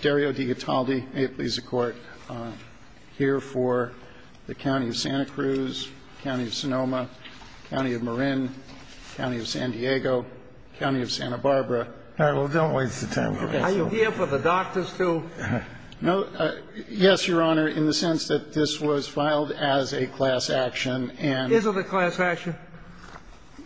Dario DeGataldi, May it please the Court, here for the County of Santa Cruz, County of Sonoma, County of Marin, County of San Diego, County of Santa Barbara. All right, well, don't waste the time. Are you here for the doctors, too? No. Yes, Your Honor, in the sense that this was filed as a class action. Is it a class action?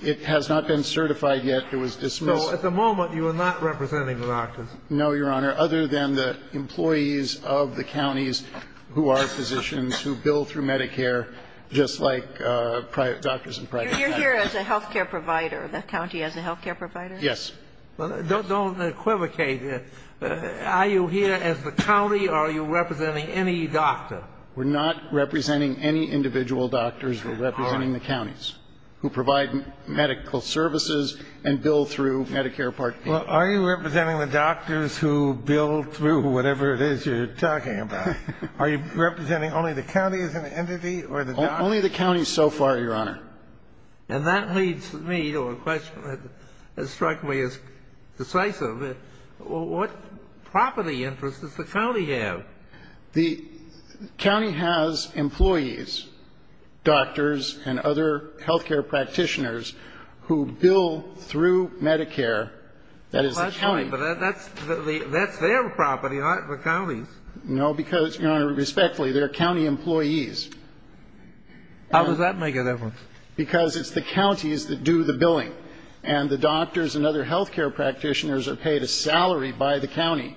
It has not been certified yet. It was dismissed. So, at the moment, you are not representing the doctors? No, Your Honor, other than the employees of the counties who are physicians, who bill through Medicare, just like doctors and private doctors. You're here as a health care provider, the county as a health care provider? Yes. Don't equivocate. Are you here as the county, or are you representing any doctor? We're not representing any individual doctors. We're representing the counties who provide medical services and bill through Medicare Part A. Well, are you representing the doctors who bill through whatever it is you're talking about? Are you representing only the counties as an entity, or the doctors? Only the counties so far, Your Honor. And that leads me to a question that struck me as decisive. What property interest does the county have? The county has employees, doctors and other health care practitioners who bill through Medicare. That is the county. But that's their property, not the county's. No, because, Your Honor, respectfully, they're county employees. How does that make a difference? Because it's the counties that do the billing. And the doctors and other health care practitioners are paid a salary by the county.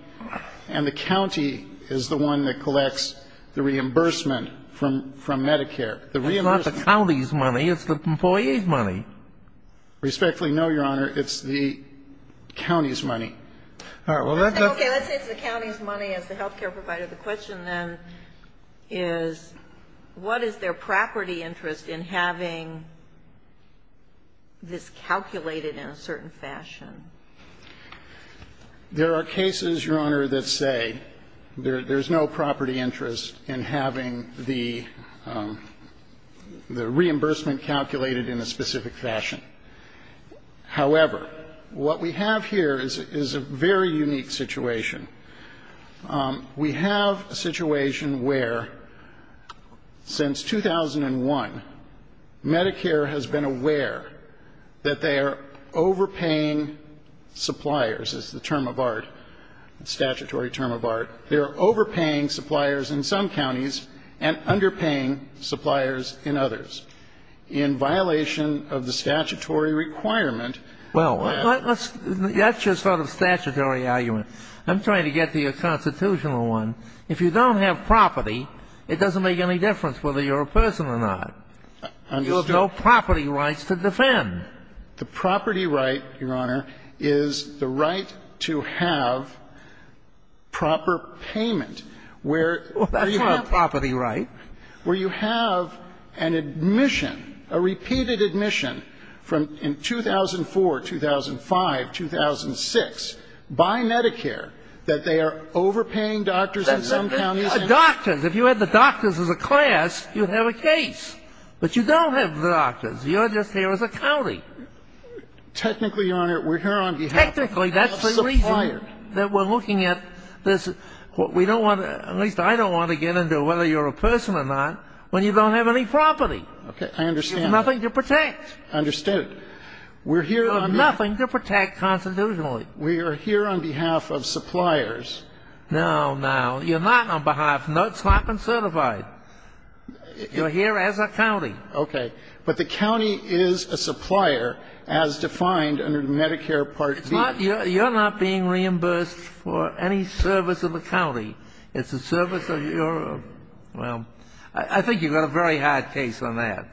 And the county is the one that collects the reimbursement from Medicare. It's not the county's money. It's the employee's money. Respectfully, no, Your Honor. It's the county's money. Okay. Let's say it's the county's money as the health care provider. The question, then, is what is their property interest in having this calculated in a certain fashion? There are cases, Your Honor, that say there's no property interest in having the reimbursement calculated in a specific fashion. However, what we have here is a very unique situation. We have a situation where since 2001, Medicare has been aware that they are overpaying suppliers, is the term of art, statutory term of art. They are overpaying suppliers in some counties and underpaying suppliers in others. In violation of the statutory requirement, well, that's your sort of statutory argument. I'm trying to get to your constitutional one. If you don't have property, it doesn't make any difference whether you're a person or not. You have no property rights to defend. The property right, Your Honor, is the right to have proper payment where you have a property right, where you have an admission, a repeated admission from 2004, 2005, 2006, by Medicare, that they are overpaying doctors in some counties. Doctors. If you had the doctors as a class, you'd have a case. But you don't have the doctors. You're just here as a county. Technically, Your Honor, we're here on behalf of suppliers. Technically, that's the reason that we're looking at this. We don't want to at least I don't want to get into whether you're a person or not when you don't have any property. Okay. I understand. There's nothing to protect. Understood. We're here on behalf. There's nothing to protect constitutionally. We are here on behalf of suppliers. No, no. You're not on behalf. No, it's not been certified. You're here as a county. Okay. But the county is a supplier, as defined under Medicare Part B. You're not being reimbursed for any service of the county. It's a service of your own. Well, I think you've got a very hard case on that.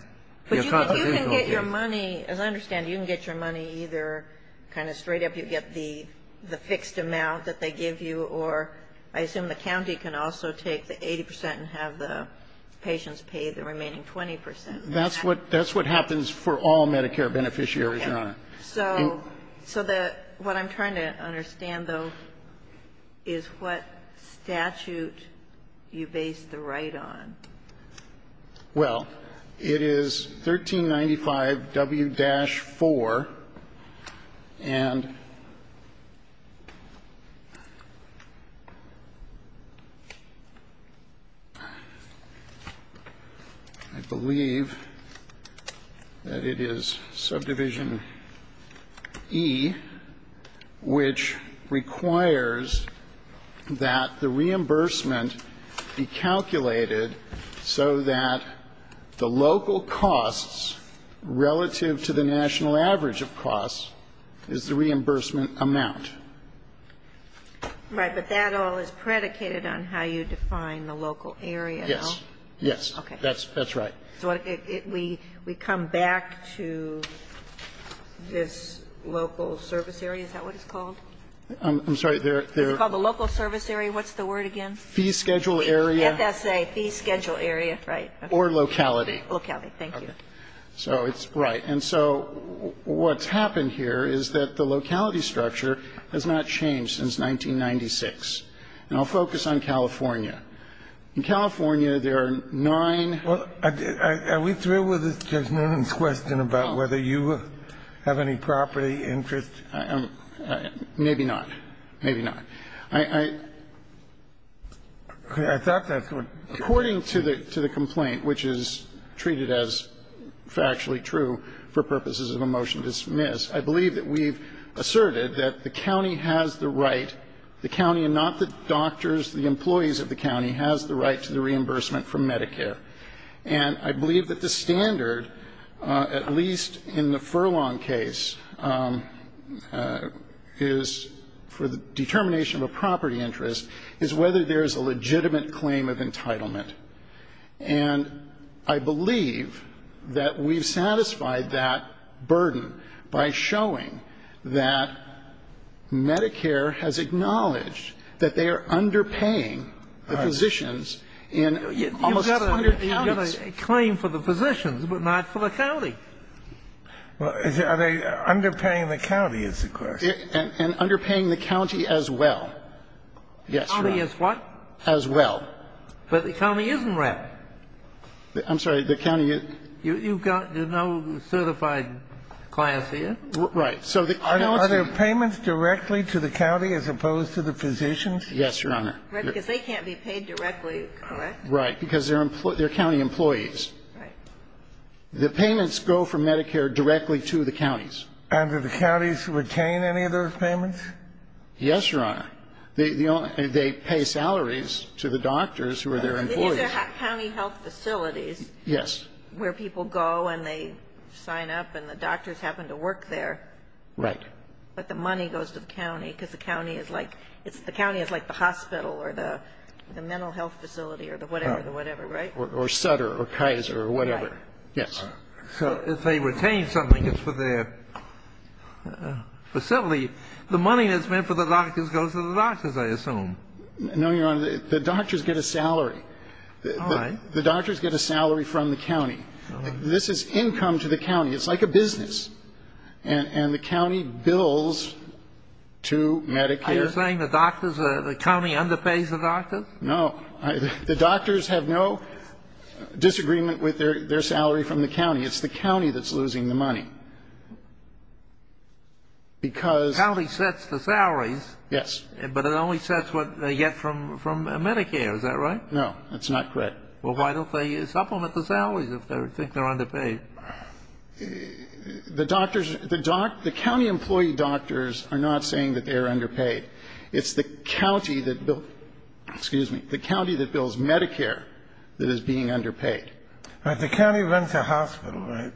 Your constitutional case. But you can get your money, as I understand, you can get your money either kind of straight up, you get the fixed amount that they give you, or I assume the county can also take the 80 percent and have the patients pay the remaining 20 percent. That's what happens for all Medicare beneficiaries, Your Honor. So what I'm trying to understand, though, is what statute you base the right on. Well, it is 1395 W-4, and I believe that it is subdivision E, which requires that the reimbursement be calculated so that the local costs relative to the national average of costs is the reimbursement amount. Right. But that all is predicated on how you define the local area, no? Yes. Yes. Okay. That's right. So we come back to this local service area? Is that what it's called? I'm sorry. It's called the local service area. What's the word again? Fee schedule area. FSA. Fee schedule area. Right. Or locality. Locality. Thank you. So it's right. And so what's happened here is that the locality structure has not changed since 1996. And I'll focus on California. In California, there are nine. Well, are we through with Judge Newman's question about whether you have any property interest? Maybe not. Okay. I thought that's what you said. According to the complaint, which is treated as factually true for purposes of a motion dismissed, I believe that we've asserted that the county has the right, the county and not the doctors, the employees of the county, has the right to the reimbursement from Medicare. And I believe that the standard, at least in the Furlong case, is for the determination of a property interest, is whether there is a legitimate claim of entitlement. And I believe that we've satisfied that burden by showing that Medicare has acknowledged that they are underpaying the physicians in almost hundreds of thousands of dollars in Medicare. The county has not paid the physicians. They're not underpaid. They've got a claim for the physicians, but not for the county. Are they underpaying the county is the question. And underpaying the county as well. Yes, Your Honor. They're county employees. Right. The payments go from Medicare directly to the counties. And do the counties retain any of those payments? Yes, Your Honor. They pay salaries to the doctors who are their employees. These are county health facilities. Yes. Where people go and they sign up and the doctors happen to work there. Right. But the money goes to the county because the county is like the hospital or the mental health facility or the whatever, the whatever, right? Or Sutter or Kaiser or whatever. Yes. So if they retain something, it's for their facility. The money that's meant for the doctors goes to the doctors, I assume. No, Your Honor. The doctors get a salary. All right. The doctors get a salary from the county. This is income to the county. It's like a business. And the county bills to Medicare. Are you saying the doctors, the county underpays the doctors? No. The doctors have no disagreement with their salary from the county. It's the county that's losing the money. Because the county sets the salaries. Yes. But it only sets what they get from Medicare. Is that right? No, that's not correct. Well, why don't they supplement the salaries if they think they're underpaid? The doctors, the county employee doctors are not saying that they are underpaid. It's the county that bills Medicare that is being underpaid. But the county rents a hospital, right?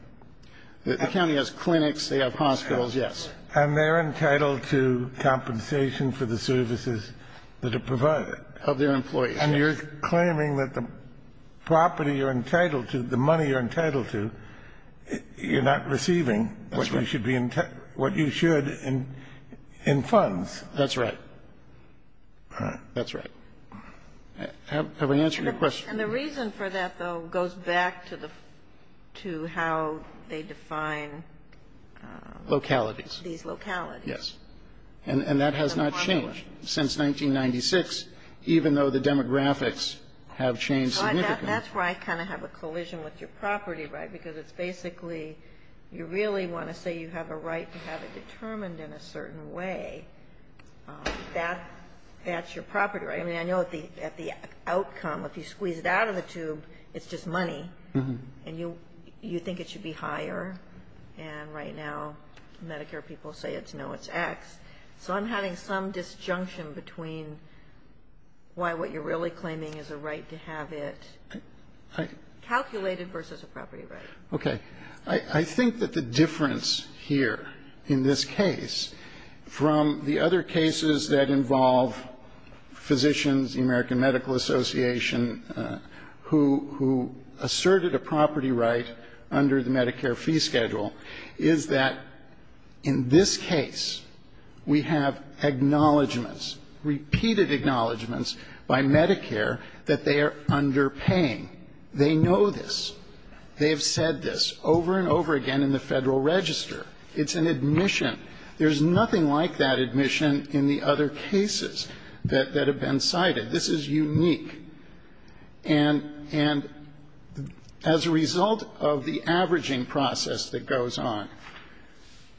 The county has clinics. They have hospitals, yes. And they're entitled to compensation for the services that are provided. Of their employees, yes. And you're claiming that the property you're entitled to, the money you're entitled to, you're not receiving what you should in funds. That's right. That's right. Have I answered your question? And the reason for that, though, goes back to the to how they define localities. These localities. Yes. And that has not changed since 1996, even though the demographics have changed significantly. That's why I kind of have a collision with your property right, because it's basically you really want to say you have a right to have it determined in a certain way. That's your property right. I mean, I know at the outcome, if you squeeze it out of the tube, it's just money. And you think it should be higher. And right now Medicare people say it's no, it's X. So I'm having some disjunction between why what you're really claiming is a right to have it calculated versus a property right. Okay. I think that the difference here in this case from the other cases that involve physicians, the American Medical Association, who asserted a property right under the Medicare fee schedule, is that in this case we have acknowledgments, repeated acknowledgments by Medicare, that they are underpaying. They know this. They have said this over and over again in the Federal Register. It's an admission. There's nothing like that admission in the other cases that have been cited. This is unique. And as a result of the averaging process that goes on,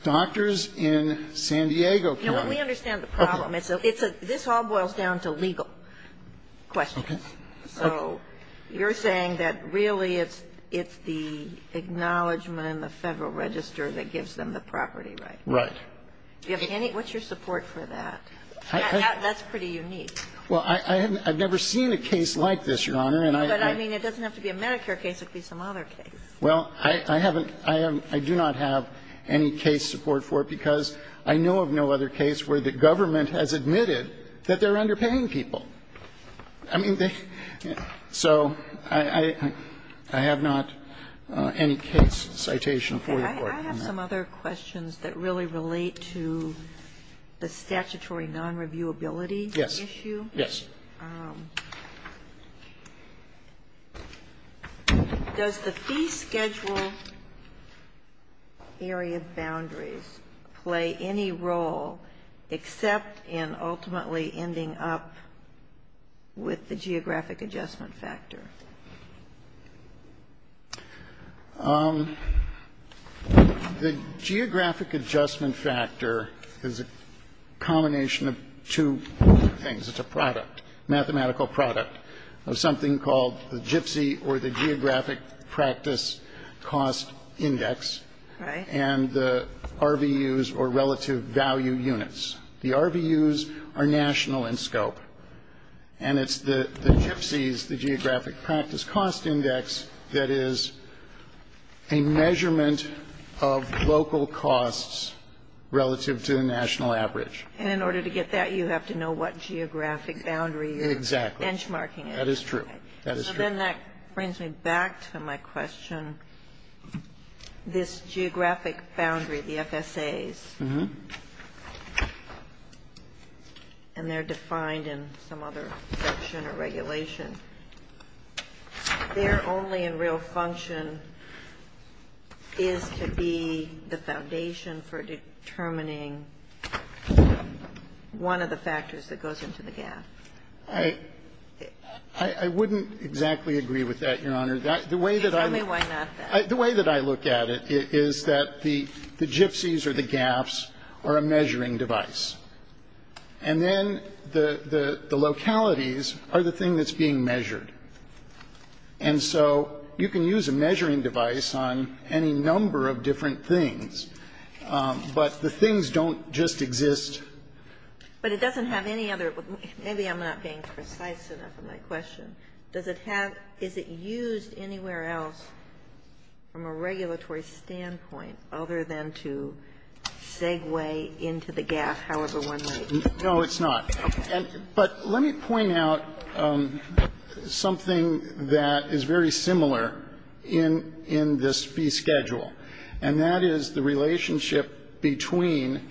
doctors in San Diego County. Now, we understand the problem. This all boils down to legal questions. Okay. So you're saying that really it's the acknowledgment in the Federal Register that gives them the property right. Right. What's your support for that? That's pretty unique. Well, I've never seen a case like this, Your Honor. But, I mean, it doesn't have to be a Medicare case. It could be some other case. Well, I haven't. I do not have any case support for it because I know of no other case where the government has admitted that they're underpaying people. I mean, so I have not any case citation for the Court. Okay. I have some other questions that really relate to the statutory nonreviewability issue. Does the fee schedule area boundaries play any role except in ultimately ending up with the geographic adjustment factor? The geographic adjustment factor is a combination of two things. It's a product. It's a mathematical product of something called the GIPC or the geographic practice cost index. Right. And the RVUs or relative value units. The RVUs are national in scope. And it's the GIPCs, the geographic practice cost index, that is a measurement of local costs relative to the national average. And in order to get that, you have to know what geographic boundary you're benchmarking. Exactly. That is true. That is true. So then that brings me back to my question. This geographic boundary, the FSAs, and they're defined in some other section or regulation. Their only and real function is to be the foundation for determining one of the factors that goes into the gap. I wouldn't exactly agree with that, Your Honor. The way that I look at it is that the GIPCs or the gaps are a measuring device. And then the localities are the thing that's being measured. And so you can use a measuring device on any number of different things. But the things don't just exist. But it doesn't have any other. Maybe I'm not being precise enough in my question. Does it have or is it used anywhere else from a regulatory standpoint other than to segue into the gap, No, it's not. But let me point out something that is very similar in this fee schedule. And that is the relationship between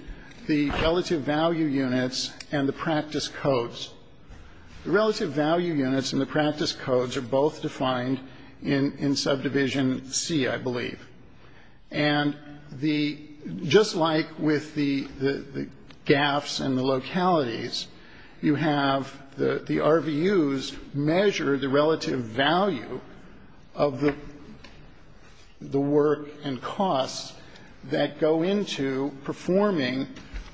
the relative value units and the practice codes. The relative value units and the practice codes are both defined in subdivision C, I believe. And just like with the gaps and the localities, you have the RVUs measure the relative value of the work and costs that go into performing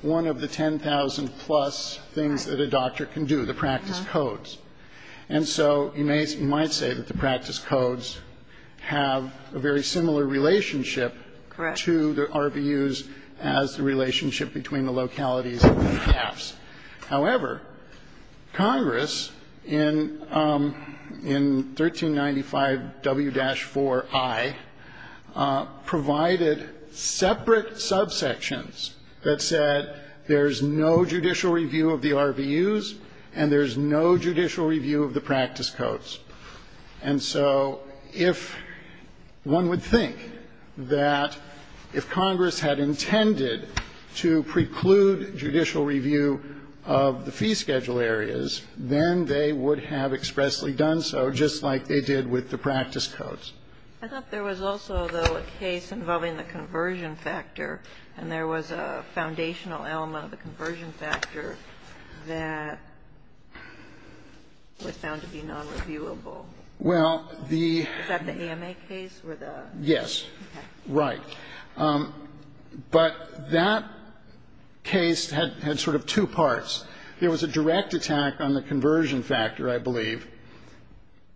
one of the 10,000-plus things that a doctor can do, the practice codes. And so you might say that the practice codes have a very similar relationship to the RVUs as the relationship between the localities and the gaps. However, Congress in 1395 W-4I provided separate subsections that said there's no judicial review of the RVUs and there's no judicial review of the practice codes. And so if one would think that if Congress had intended to preclude judicial review of the fee schedule areas, then they would have expressly done so, just like they did with the practice codes. I thought there was also, though, a case involving the conversion factor. And there was a foundational element of the conversion factor that was found to be nonreviewable. Is that the AMA case? Yes. Okay. Right. But that case had sort of two parts. There was a direct attack on the conversion factor, I believe,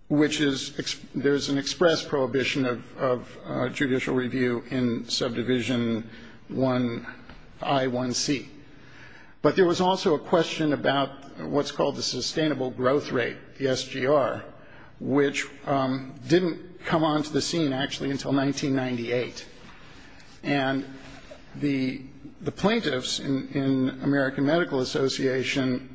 which is there's an express prohibition of judicial review in subdivision I-1C. But there was also a question about what's called the sustainable growth rate, the SGR, which didn't come onto the scene, actually, until 1998. And the plaintiffs in American Medical Association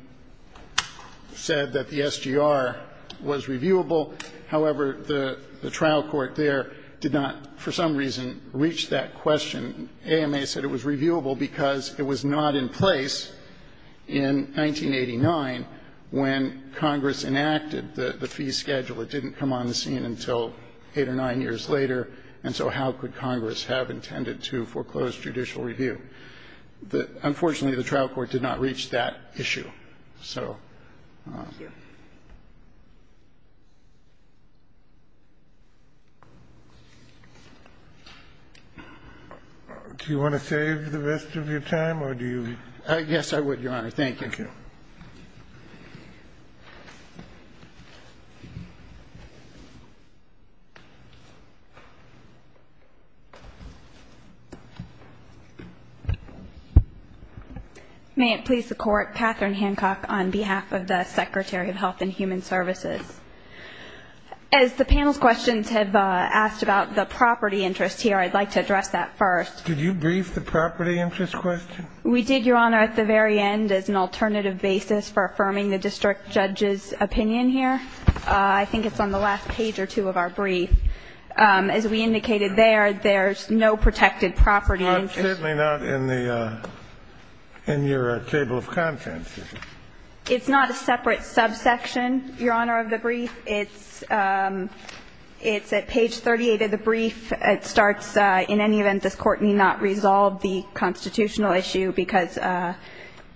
said that the SGR was reviewable. However, the trial court there did not, for some reason, reach that question. AMA said it was reviewable because it was not in place in 1989 when Congress enacted the fee schedule. It didn't come onto the scene until eight or nine years later. And so how could Congress have intended to foreclose judicial review? Unfortunately, the trial court did not reach that issue. So do you want to save the rest of your time or do you? Yes, I would, Your Honor. Thank you. Thank you. Thank you. May it please the Court, Katherine Hancock on behalf of the Secretary of Health and Human Services. As the panel's questions have asked about the property interest here, I'd like to address that first. Did you brief the property interest question? We did, Your Honor, at the very end as an alternative basis for affirming the district judge's opinion here. I think it's on the last page or two of our brief. As we indicated there, there's no protected property interest. Certainly not in your table of contents, is it? It's not a separate subsection, Your Honor, of the brief. It's at page 38 of the brief. It starts, in any event, this Court need not resolve the constitutional issue because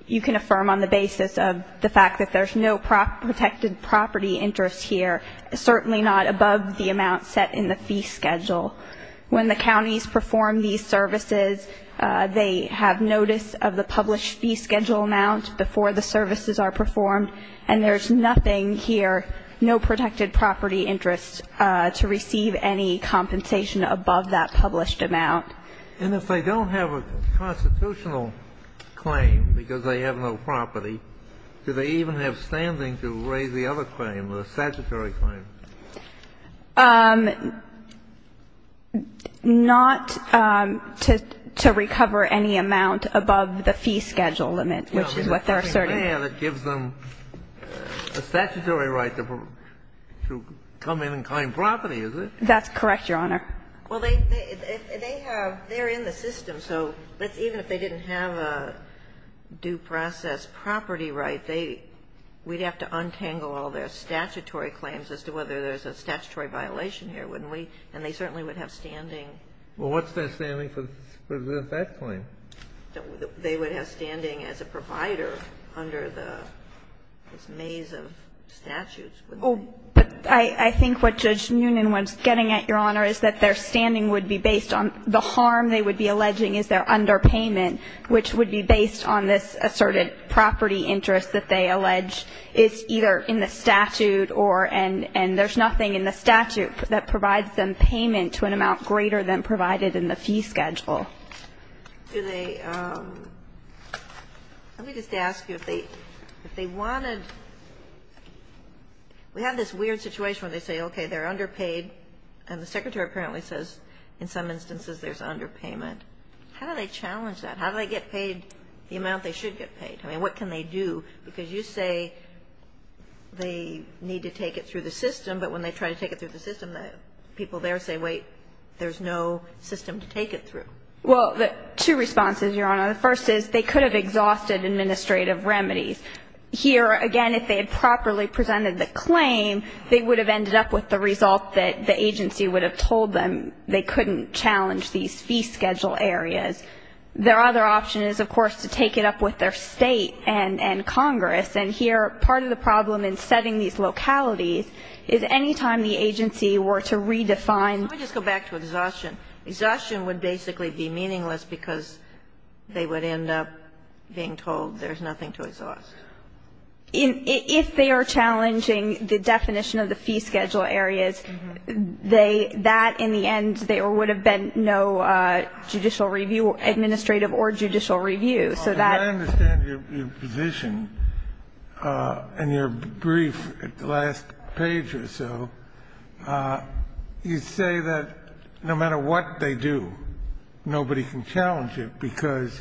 you can affirm on the basis of the fact that there's no protected property interest here, certainly not above the amount set in the fee schedule. When the counties perform these services, they have notice of the published fee schedule amount before the services are performed, and there's nothing here, no protected property interest, to receive any compensation above that published amount. And if they don't have a constitutional claim because they have no property, do they even have standing to raise the other claim, the statutory claim? Not to recover any amount above the fee schedule limit, which is what they're asserting. If they have, it gives them a statutory right to come in and claim property, is it? That's correct, Your Honor. Well, they have they're in the system. So even if they didn't have a due process property right, we'd have to untangle all their statutory claims as to whether there's a statutory violation here, wouldn't we? And they certainly would have standing. Well, what's their standing for that claim? They would have standing as a provider under the maze of statutes. Oh, but I think what Judge Newnan was getting at, Your Honor, is that their standing would be based on the harm they would be alleging is their underpayment, which would be based on this asserted property interest that they allege is either in the statute or and there's nothing in the statute that provides them payment to an amount greater than provided in the fee schedule. Do they, let me just ask you, if they wanted, we have this weird situation where they say, okay, they're underpaid, and the Secretary apparently says in some instances there's underpayment. How do they challenge that? How do they get paid the amount they should get paid? I mean, what can they do? Because you say they need to take it through the system, but when they try to take it through the system, the people there say, wait, there's no system to take it through. Well, two responses, Your Honor. The first is they could have exhausted administrative remedies. Here, again, if they had properly presented the claim, they would have ended up with the result that the agency would have told them they couldn't challenge these fee schedule areas. Their other option is, of course, to take it up with their State and Congress. And here, part of the problem in setting these localities is any time the agency were to redefine the fee schedule areas. Let me just go back to exhaustion. Exhaustion would basically be meaningless because they would end up being told there's nothing to exhaust. If they are challenging the definition of the fee schedule areas, that in the end there would have been no judicial review, administrative or judicial review. So that you say that no matter what they do, nobody can challenge it because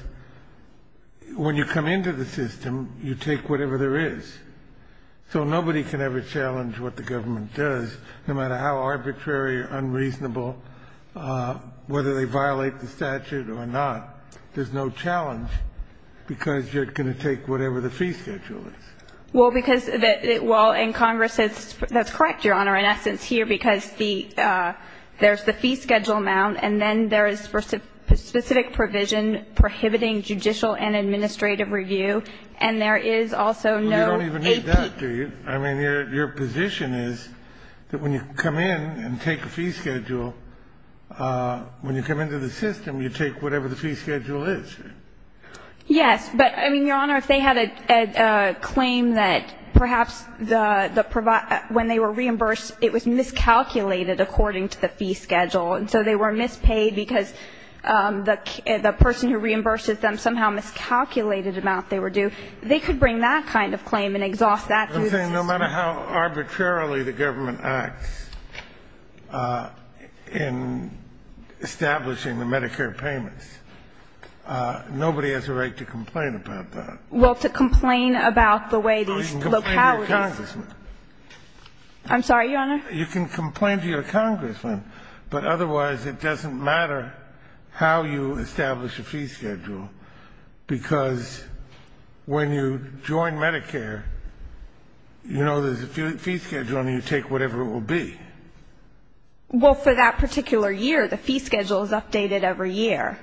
when you come into the system, you take whatever there is. So nobody can ever challenge what the government does, no matter how arbitrary or unreasonable, whether they violate the statute or not. There's no challenge. Because you're going to take whatever the fee schedule is. Well, because the ñ well, and Congress has ñ that's correct, Your Honor, in essence, here, because the ñ there's the fee schedule amount, and then there is specific provision prohibiting judicial and administrative review. And there is also no AP. Well, you don't even need that, do you? I mean, your position is that when you come in and take a fee schedule, when you come into the system, you take whatever the fee schedule is. Yes. But, I mean, Your Honor, if they had a claim that perhaps the ñ when they were reimbursed, it was miscalculated according to the fee schedule, and so they were mispaid because the person who reimburses them somehow miscalculated the amount they were due, they could bring that kind of claim and exhaust that through the system. I'm saying no matter how arbitrarily the government acts in establishing the Medicare payments, nobody has a right to complain about that. Well, to complain about the way these localities ñ No, you can complain to your congressman. I'm sorry, Your Honor? You can complain to your congressman, but otherwise it doesn't matter how you establish a fee schedule, because when you join Medicare, you know there's a fee schedule and you take whatever it will be. Well, for that particular year, the fee schedule is updated every year.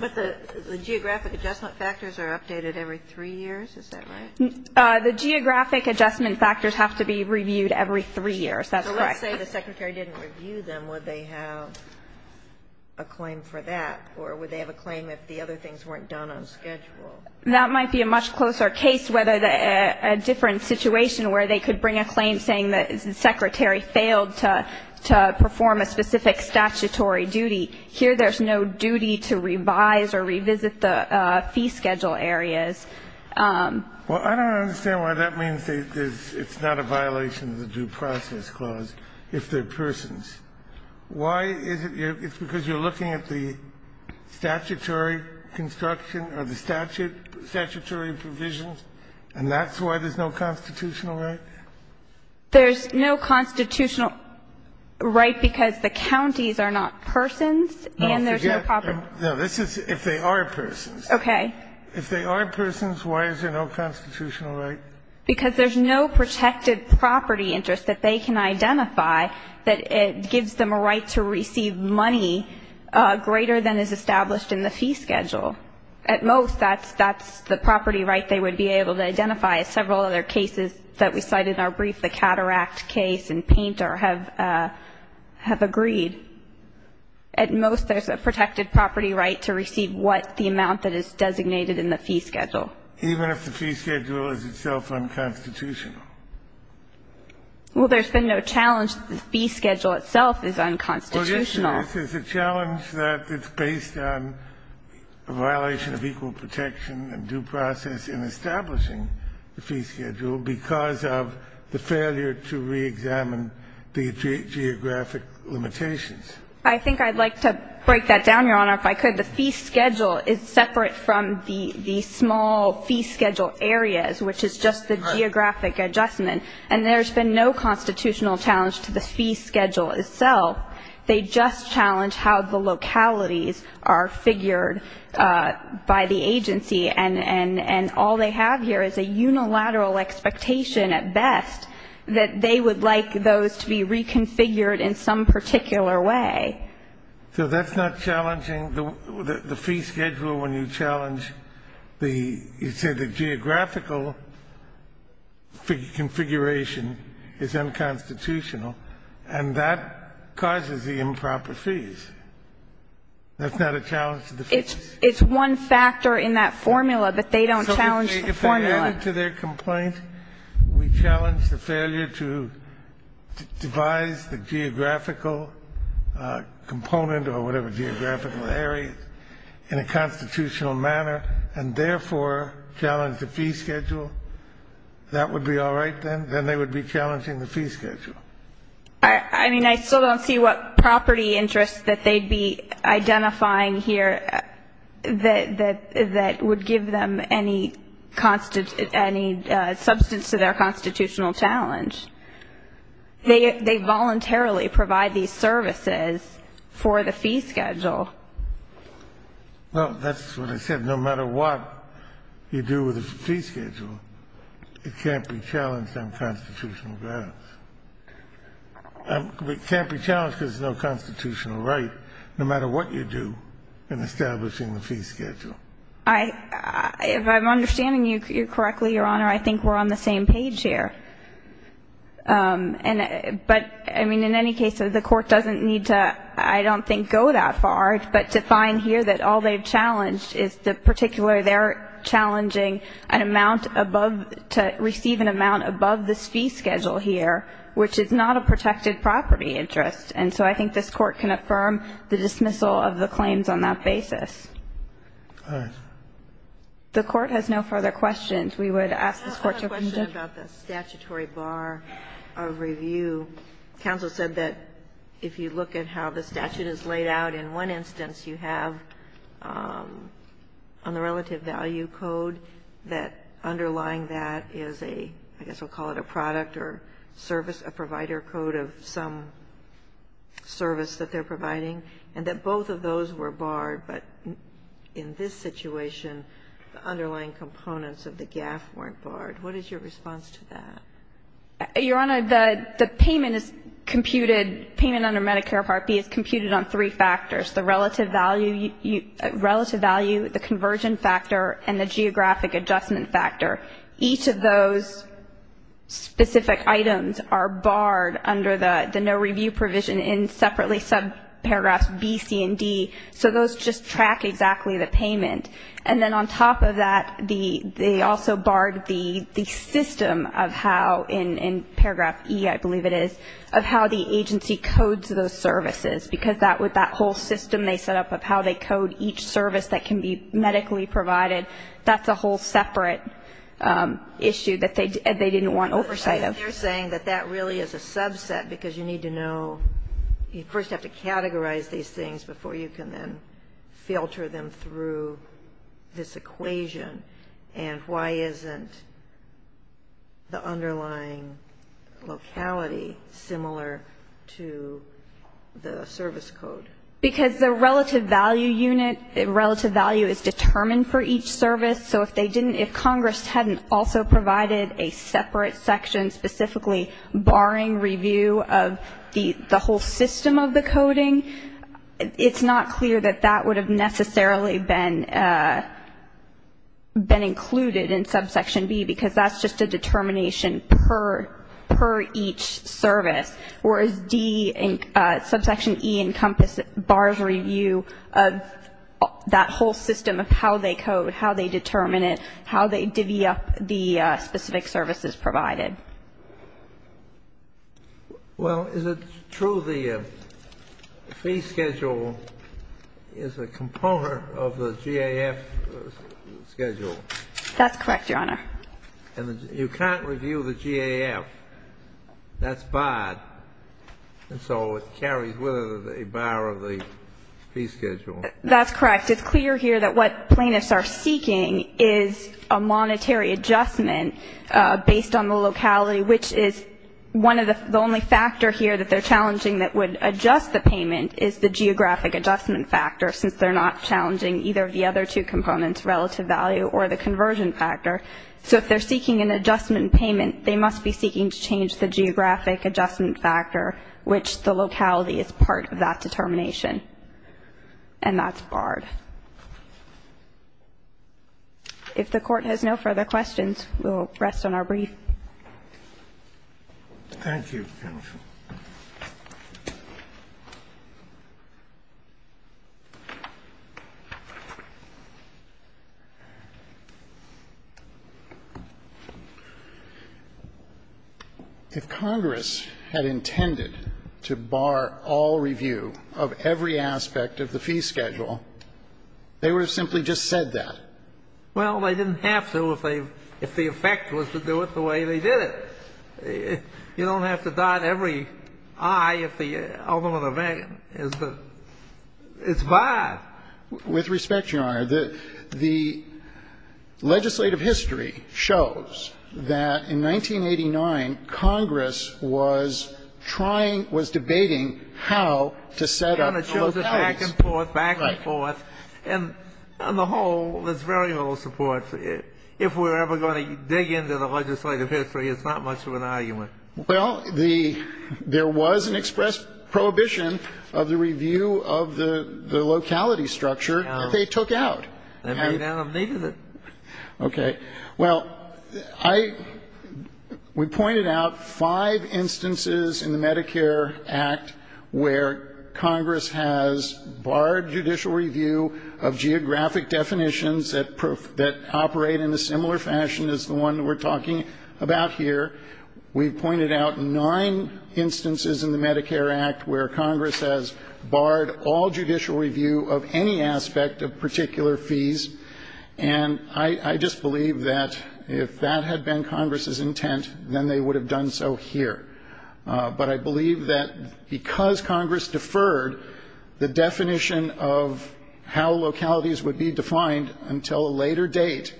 But the geographic adjustment factors are updated every three years. Is that right? The geographic adjustment factors have to be reviewed every three years. That's correct. So let's say the secretary didn't review them. Would they have a claim for that, or would they have a claim if the other things weren't done on schedule? That might be a much closer case, whether a different situation where they could bring a claim saying the secretary failed to perform a specific statutory duty. Here there's no duty to revise or revisit the fee schedule areas. Well, I don't understand why that means it's not a violation of the Due Process Clause if they're persons. Why is it ñ it's because you're looking at the statutory construction or the statutory provisions, and that's why there's no constitutional right? There's no constitutional right because the counties are not persons and there's no property. No, this is if they are persons. Okay. If they are persons, why is there no constitutional right? Because there's no protected property interest that they can identify that gives them a right to receive money greater than is established in the fee schedule. At most, that's the property right they would be able to identify. Several other cases that we cite in our brief, the Cataract case and Painter, have agreed. At most, there's a protected property right to receive what the amount that is designated in the fee schedule. Even if the fee schedule is itself unconstitutional. Well, there's been no challenge that the fee schedule itself is unconstitutional. Well, yes, there is. There's a challenge that it's based on a violation of equal protection and due process in establishing the fee schedule because of the failure to reexamine the geographic limitations. I think I'd like to break that down, Your Honor, if I could. The fee schedule is separate from the small fee schedule areas, which is just the geographic adjustment. And there's been no constitutional challenge to the fee schedule itself. They just challenge how the localities are figured by the agency. And all they have here is a unilateral expectation, at best, that they would like those to be reconfigured in some particular way. So that's not challenging? The fee schedule, when you challenge the geographical configuration, is unconstitutional. And that causes the improper fees. That's not a challenge to the fee schedule? It's one factor in that formula that they don't challenge the formula. So if they add it to their complaint, we challenge the failure to devise the geographical component or whatever geographical area in a constitutional manner and therefore challenge the fee schedule, that would be all right then? Then they would be challenging the fee schedule. I mean, I still don't see what property interests that they'd be identifying here that would give them any substance to their constitutional challenge. They voluntarily provide these services for the fee schedule. Well, that's what I said. No matter what you do with the fee schedule, it can't be challenged on constitutional grounds. It can't be challenged because there's no constitutional right, no matter what you do in establishing the fee schedule. If I'm understanding you correctly, Your Honor, I think we're on the same page here. But, I mean, in any case, the Court doesn't need to, I don't think, go that far, but to particularly they're challenging an amount above, to receive an amount above this fee schedule here, which is not a protected property interest. And so I think this Court can affirm the dismissal of the claims on that basis. All right. The Court has no further questions. We would ask this Court to adjourn. I have a question about the statutory bar of review. Counsel said that if you look at how the statute is laid out, in one instance you have on the relative value code that underlying that is a, I guess we'll call it a product or service, a provider code of some service that they're providing, and that both of those were barred, but in this situation the underlying components of the GAF weren't barred. What is your response to that? Your Honor, the payment is computed, payment under Medicare Part B is computed on three factors. The relative value, the conversion factor, and the geographic adjustment factor. Each of those specific items are barred under the no review provision in separately subparagraphs B, C, and D. So those just track exactly the payment. And then on top of that, they also barred the system of how, in paragraph E, I believe it is, of how the agency codes those services. Because with that whole system they set up of how they code each service that can be medically provided, that's a whole separate issue that they didn't want oversight of. But they're saying that that really is a subset because you need to know, you first have to categorize these things before you can then filter them through this equation. And why isn't the underlying locality similar to the service code? Because the relative value unit, relative value is determined for each service. So if they didn't, if Congress hadn't also provided a separate section specifically barring review of the whole system of the coding, it's not clear that that would have necessarily been included in subsection B, because that's just a determination per each service. Whereas D, subsection E encompassed bars review of that whole system of how they code, how they determine it, how they divvy up the specific services provided. Well, is it true the fee schedule is a component of the GAF schedule? That's correct, Your Honor. And you can't review the GAF. That's barred. And so it carries with it a bar of the fee schedule. That's correct. It's clear here that what plaintiffs are seeking is a monetary adjustment based on the locality, which is one of the only factor here that they're challenging that would adjust the payment is the geographic adjustment factor, since they're not challenging either of the other two components, relative value or the conversion factor. So if they're seeking an adjustment payment, they must be seeking to change the geographic adjustment factor, which the locality is part of that determination. And that's barred. If the Court has no further questions, we'll rest on our brief. Thank you, counsel. If Congress had intended to bar all review of every aspect of the fee schedule, they would have simply just said that. Well, they didn't have to if the effect was to do it the way they did it. You don't have to dot every I if the ultimate event is barred. With respect, Your Honor, the legislative history shows that in 1989, Congress was trying, was debating how to set up the localities. It shows it back and forth, back and forth. And on the whole, there's very little support. If we're ever going to dig into the legislative history, it's not much of an argument. Well, there was an express prohibition of the review of the locality structure that they took out. They may not have needed it. Okay. Well, I, we pointed out five instances in the Medicare Act where Congress has barred judicial review of geographic definitions that operate in a similar fashion as the one we're talking about here. We pointed out nine instances in the Medicare Act where Congress has barred all judicial review of any aspect of particular fees. And I just believe that if that had been Congress's intent, then they would have done so here. But I believe that because Congress deferred the definition of how localities would be defined until a later date,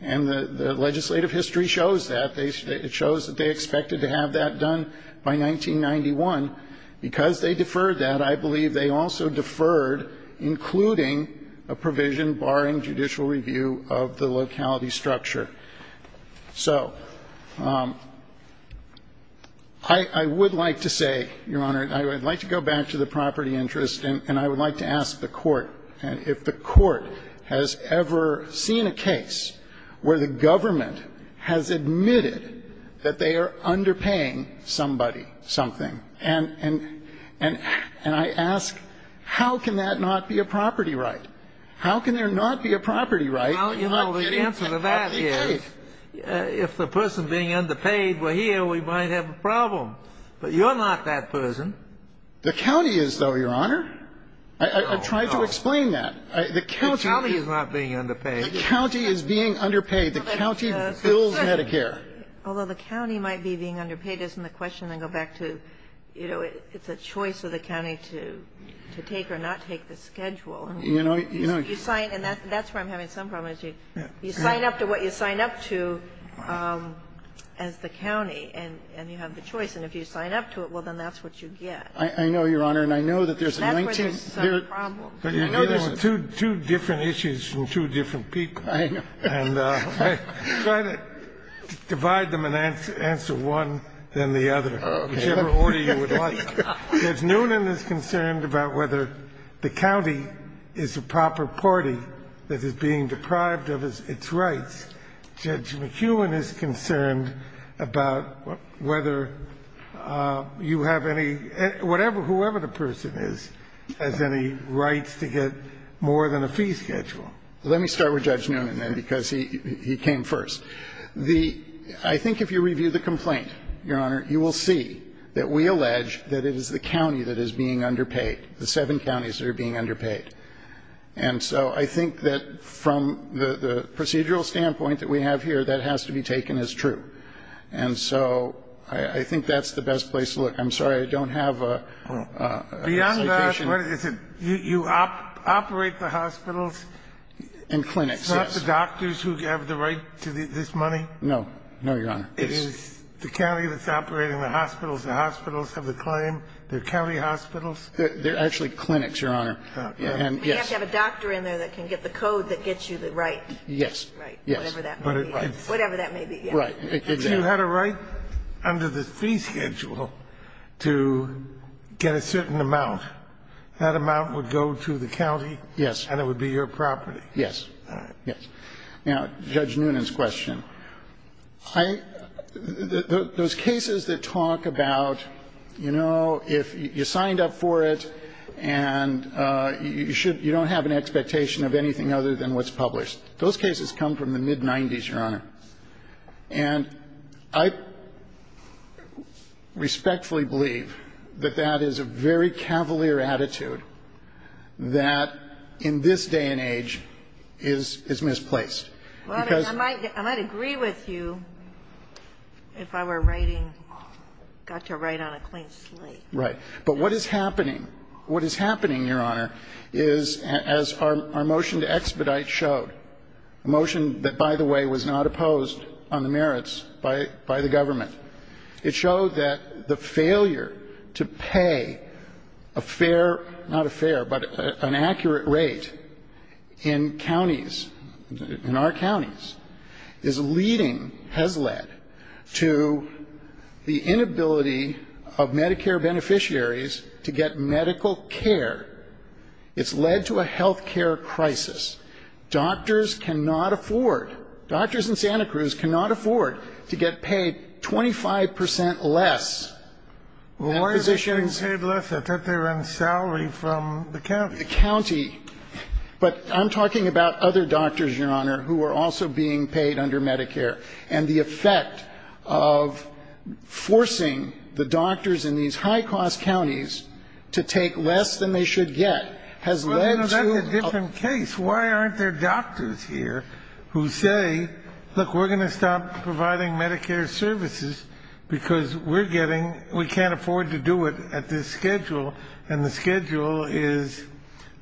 and the legislative history shows that. It shows that they expected to have that done by 1991. Because they deferred that, I believe they also deferred including a provision barring judicial review of the locality structure. So I would like to say, Your Honor, I would like to go back to the property interest and I would like to ask the Court if the Court has ever seen a case where the government has admitted that they are underpaying somebody something. And I ask, how can that not be a property right? How can there not be a property right? Well, you know, the answer to that is if the person being underpaid were here, we might have a problem. But you're not that person. The county is, though, Your Honor. I tried to explain that. The county is not being underpaid. The county is being underpaid. The county bills Medicare. Although the county might be being underpaid isn't the question. I go back to, you know, it's a choice of the county to take or not take the schedule. You know, you know. And that's where I'm having some problems. You sign up to what you sign up to as the county and you have the choice. And if you sign up to it, well, then that's what you get. I know, Your Honor. And I know that there's a 19th. That's where there's some problems. I know there's two different issues and two different people. I know. And I try to divide them and answer one, then the other, whichever order you would like. Judge Noonan is concerned about whether the county is a proper party that is being deprived of its rights. Judge McEwen is concerned about whether you have any, whatever, whoever the person is, has any rights to get more than a fee schedule. Let me start with Judge Noonan, then, because he came first. The ‑‑ I think if you review the complaint, Your Honor, you will see that we allege that it is the county that is being underpaid, the seven counties that are being underpaid. And so I think that from the procedural standpoint that we have here, that has to be taken as true. And so I think that's the best place to look. I'm sorry, I don't have a citation. You operate the hospitals? In clinics, yes. Not the doctors who have the right to this money? No. No, Your Honor. It is the county that's operating the hospitals. The hospitals have the claim. They're county hospitals? They're actually clinics, Your Honor. We have to have a doctor in there that can get the code that gets you the right. Yes. Whatever that may be. Whatever that may be, yes. Right. If you had a right under the fee schedule to get a certain amount, that amount would go to the county? Yes. And it would be your property? Yes. All right. Yes. Now, Judge Noonan's question. Those cases that talk about, you know, if you signed up for it and you don't have an expectation of anything other than what's published, those cases come from the And I respectfully believe that that is a very cavalier attitude that in this day and age is misplaced. I might agree with you if I were writing, got to write on a clean slate. Right. But what is happening? What is happening, Your Honor, is as our motion to expedite showed, a motion that, by the way, was not opposed on the merits by the government. It showed that the failure to pay a fair, not a fair, but an accurate rate in counties, in our counties, is leading, has led, to the inability of Medicare beneficiaries to get medical care. It's led to a health care crisis. Doctors cannot afford, doctors in Santa Cruz cannot afford to get paid 25 percent less than physicians. Well, why are they being paid less? I thought they were on salary from the county. The county. But I'm talking about other doctors, Your Honor, who are also being paid under Medicare, and the effect of forcing the doctors in these high-cost counties to take less than they should get has led to a Well, that's a different case. Why aren't there doctors here who say, look, we're going to stop providing Medicare services because we're getting, we can't afford to do it at this schedule, and the schedule is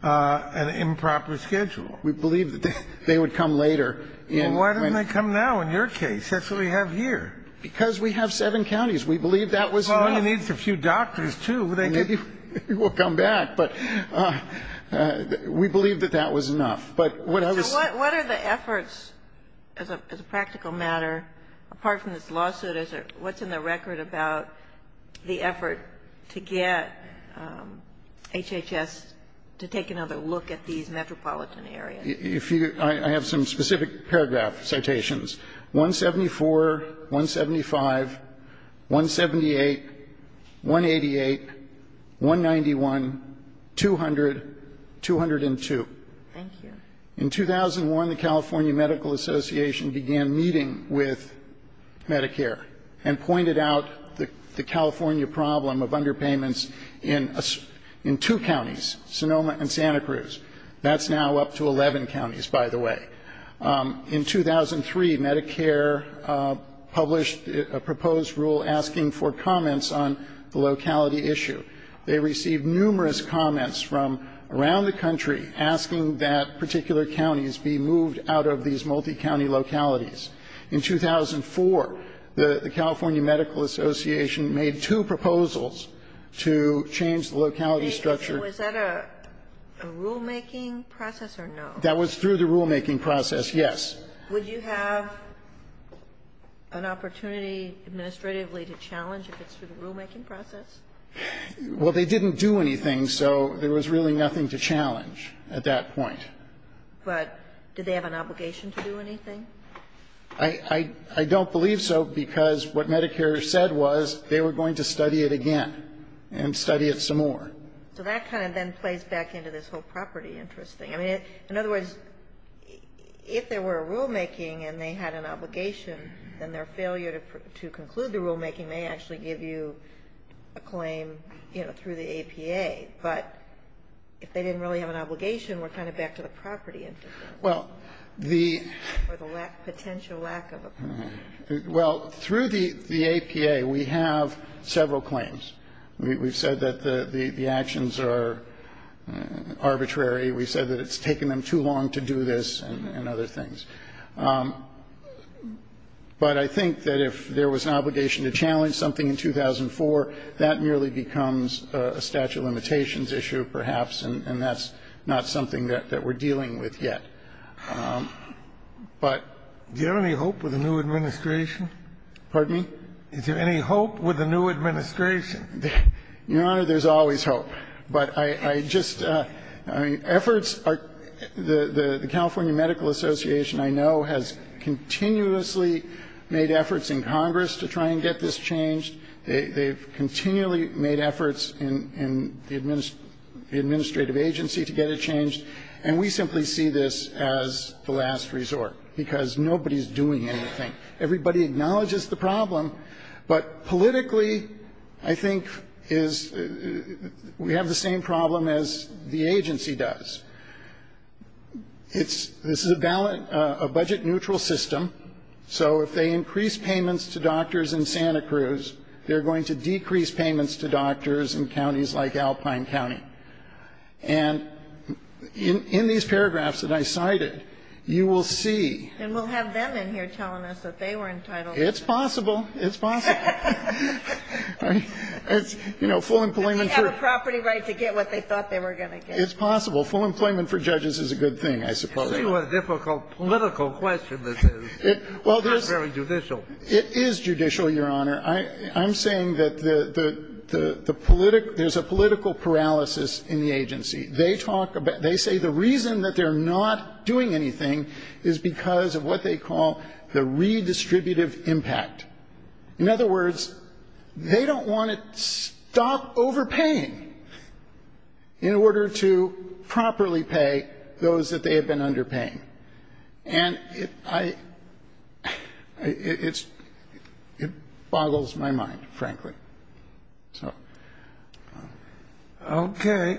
an improper schedule? We believe that they would come later. Well, why didn't they come now in your case? That's what we have here. Because we have seven counties. We believe that was enough. Well, you need a few doctors, too. We'll come back. But we believe that that was enough. But what I was So what are the efforts, as a practical matter, apart from this lawsuit, what's in the record about the effort to get HHS to take another look at these metropolitan areas? I have some specific paragraph citations. 174, 175, 178, 188, 191, 200, 202. Thank you. In 2001, the California Medical Association began meeting with Medicare and pointed out the California problem of underpayments in two counties, Sonoma and Santa Cruz. That's now up to 11 counties, by the way. In 2003, Medicare published a proposed rule asking for comments on the locality issue. They received numerous comments from around the country asking that particular counties be moved out of these multi-county localities. In 2004, the California Medical Association made two proposals to change the locality structure. Was that a rulemaking process or no? That was through the rulemaking process, yes. Would you have an opportunity administratively to challenge if it's through the rulemaking process? Well, they didn't do anything, so there was really nothing to challenge at that point. But did they have an obligation to do anything? I don't believe so, because what Medicare said was they were going to study it again and study it some more. So that kind of then plays back into this whole property interest thing. I mean, in other words, if there were a rulemaking and they had an obligation, then their failure to conclude the rulemaking may actually give you a claim, you know, through the APA. But if they didn't really have an obligation, we're kind of back to the property interest. Well, the ---- Or the potential lack of a property interest. Well, through the APA, we have several claims. We've said that the actions are arbitrary. We've said that it's taken them too long to do this and other things. But I think that if there was an obligation to challenge something in 2004, that merely becomes a statute of limitations issue perhaps, and that's not something that we're dealing with yet. But ---- Do you have any hope with the new administration? Pardon me? Is there any hope with the new administration? Your Honor, there's always hope. But I just ---- I mean, efforts are ---- the California Medical Association, I know, has continuously made efforts in Congress to try and get this changed. They've continually made efforts in the administrative agency to get it changed. And we simply see this as the last resort because nobody's doing anything. Everybody acknowledges the problem. But politically, I think, is we have the same problem as the agency does. It's ---- this is a budget-neutral system. So if they increase payments to doctors in Santa Cruz, they're going to decrease payments to doctors in counties like Alpine County. And in these paragraphs that I cited, you will see ---- It's possible. It's possible. It's, you know, full employment for ---- They have a property right to get what they thought they were going to get. It's possible. Full employment for judges is a good thing, I suppose. I see what a difficult political question this is. It's not very judicial. It is judicial, Your Honor. I'm saying that the ---- there's a political paralysis in the agency. They talk about ---- they say the reason that they're not doing anything is because of what they call the redistributive impact. In other words, they don't want to stop overpaying in order to properly pay those that they have been underpaying. And I ---- it boggles my mind, frankly. So. Okay.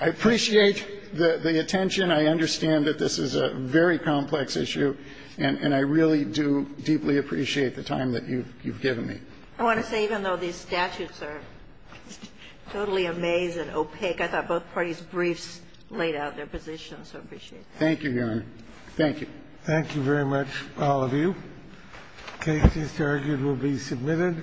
I appreciate the attention. I understand that this is a very complex issue, and I really do deeply appreciate the time that you've given me. I want to say, even though these statutes are totally amazed and opaque, I thought both parties' briefs laid out their positions. So I appreciate that. Thank you, Your Honor. Thank you. Thank you very much, all of you. The case, it's argued, will be submitted.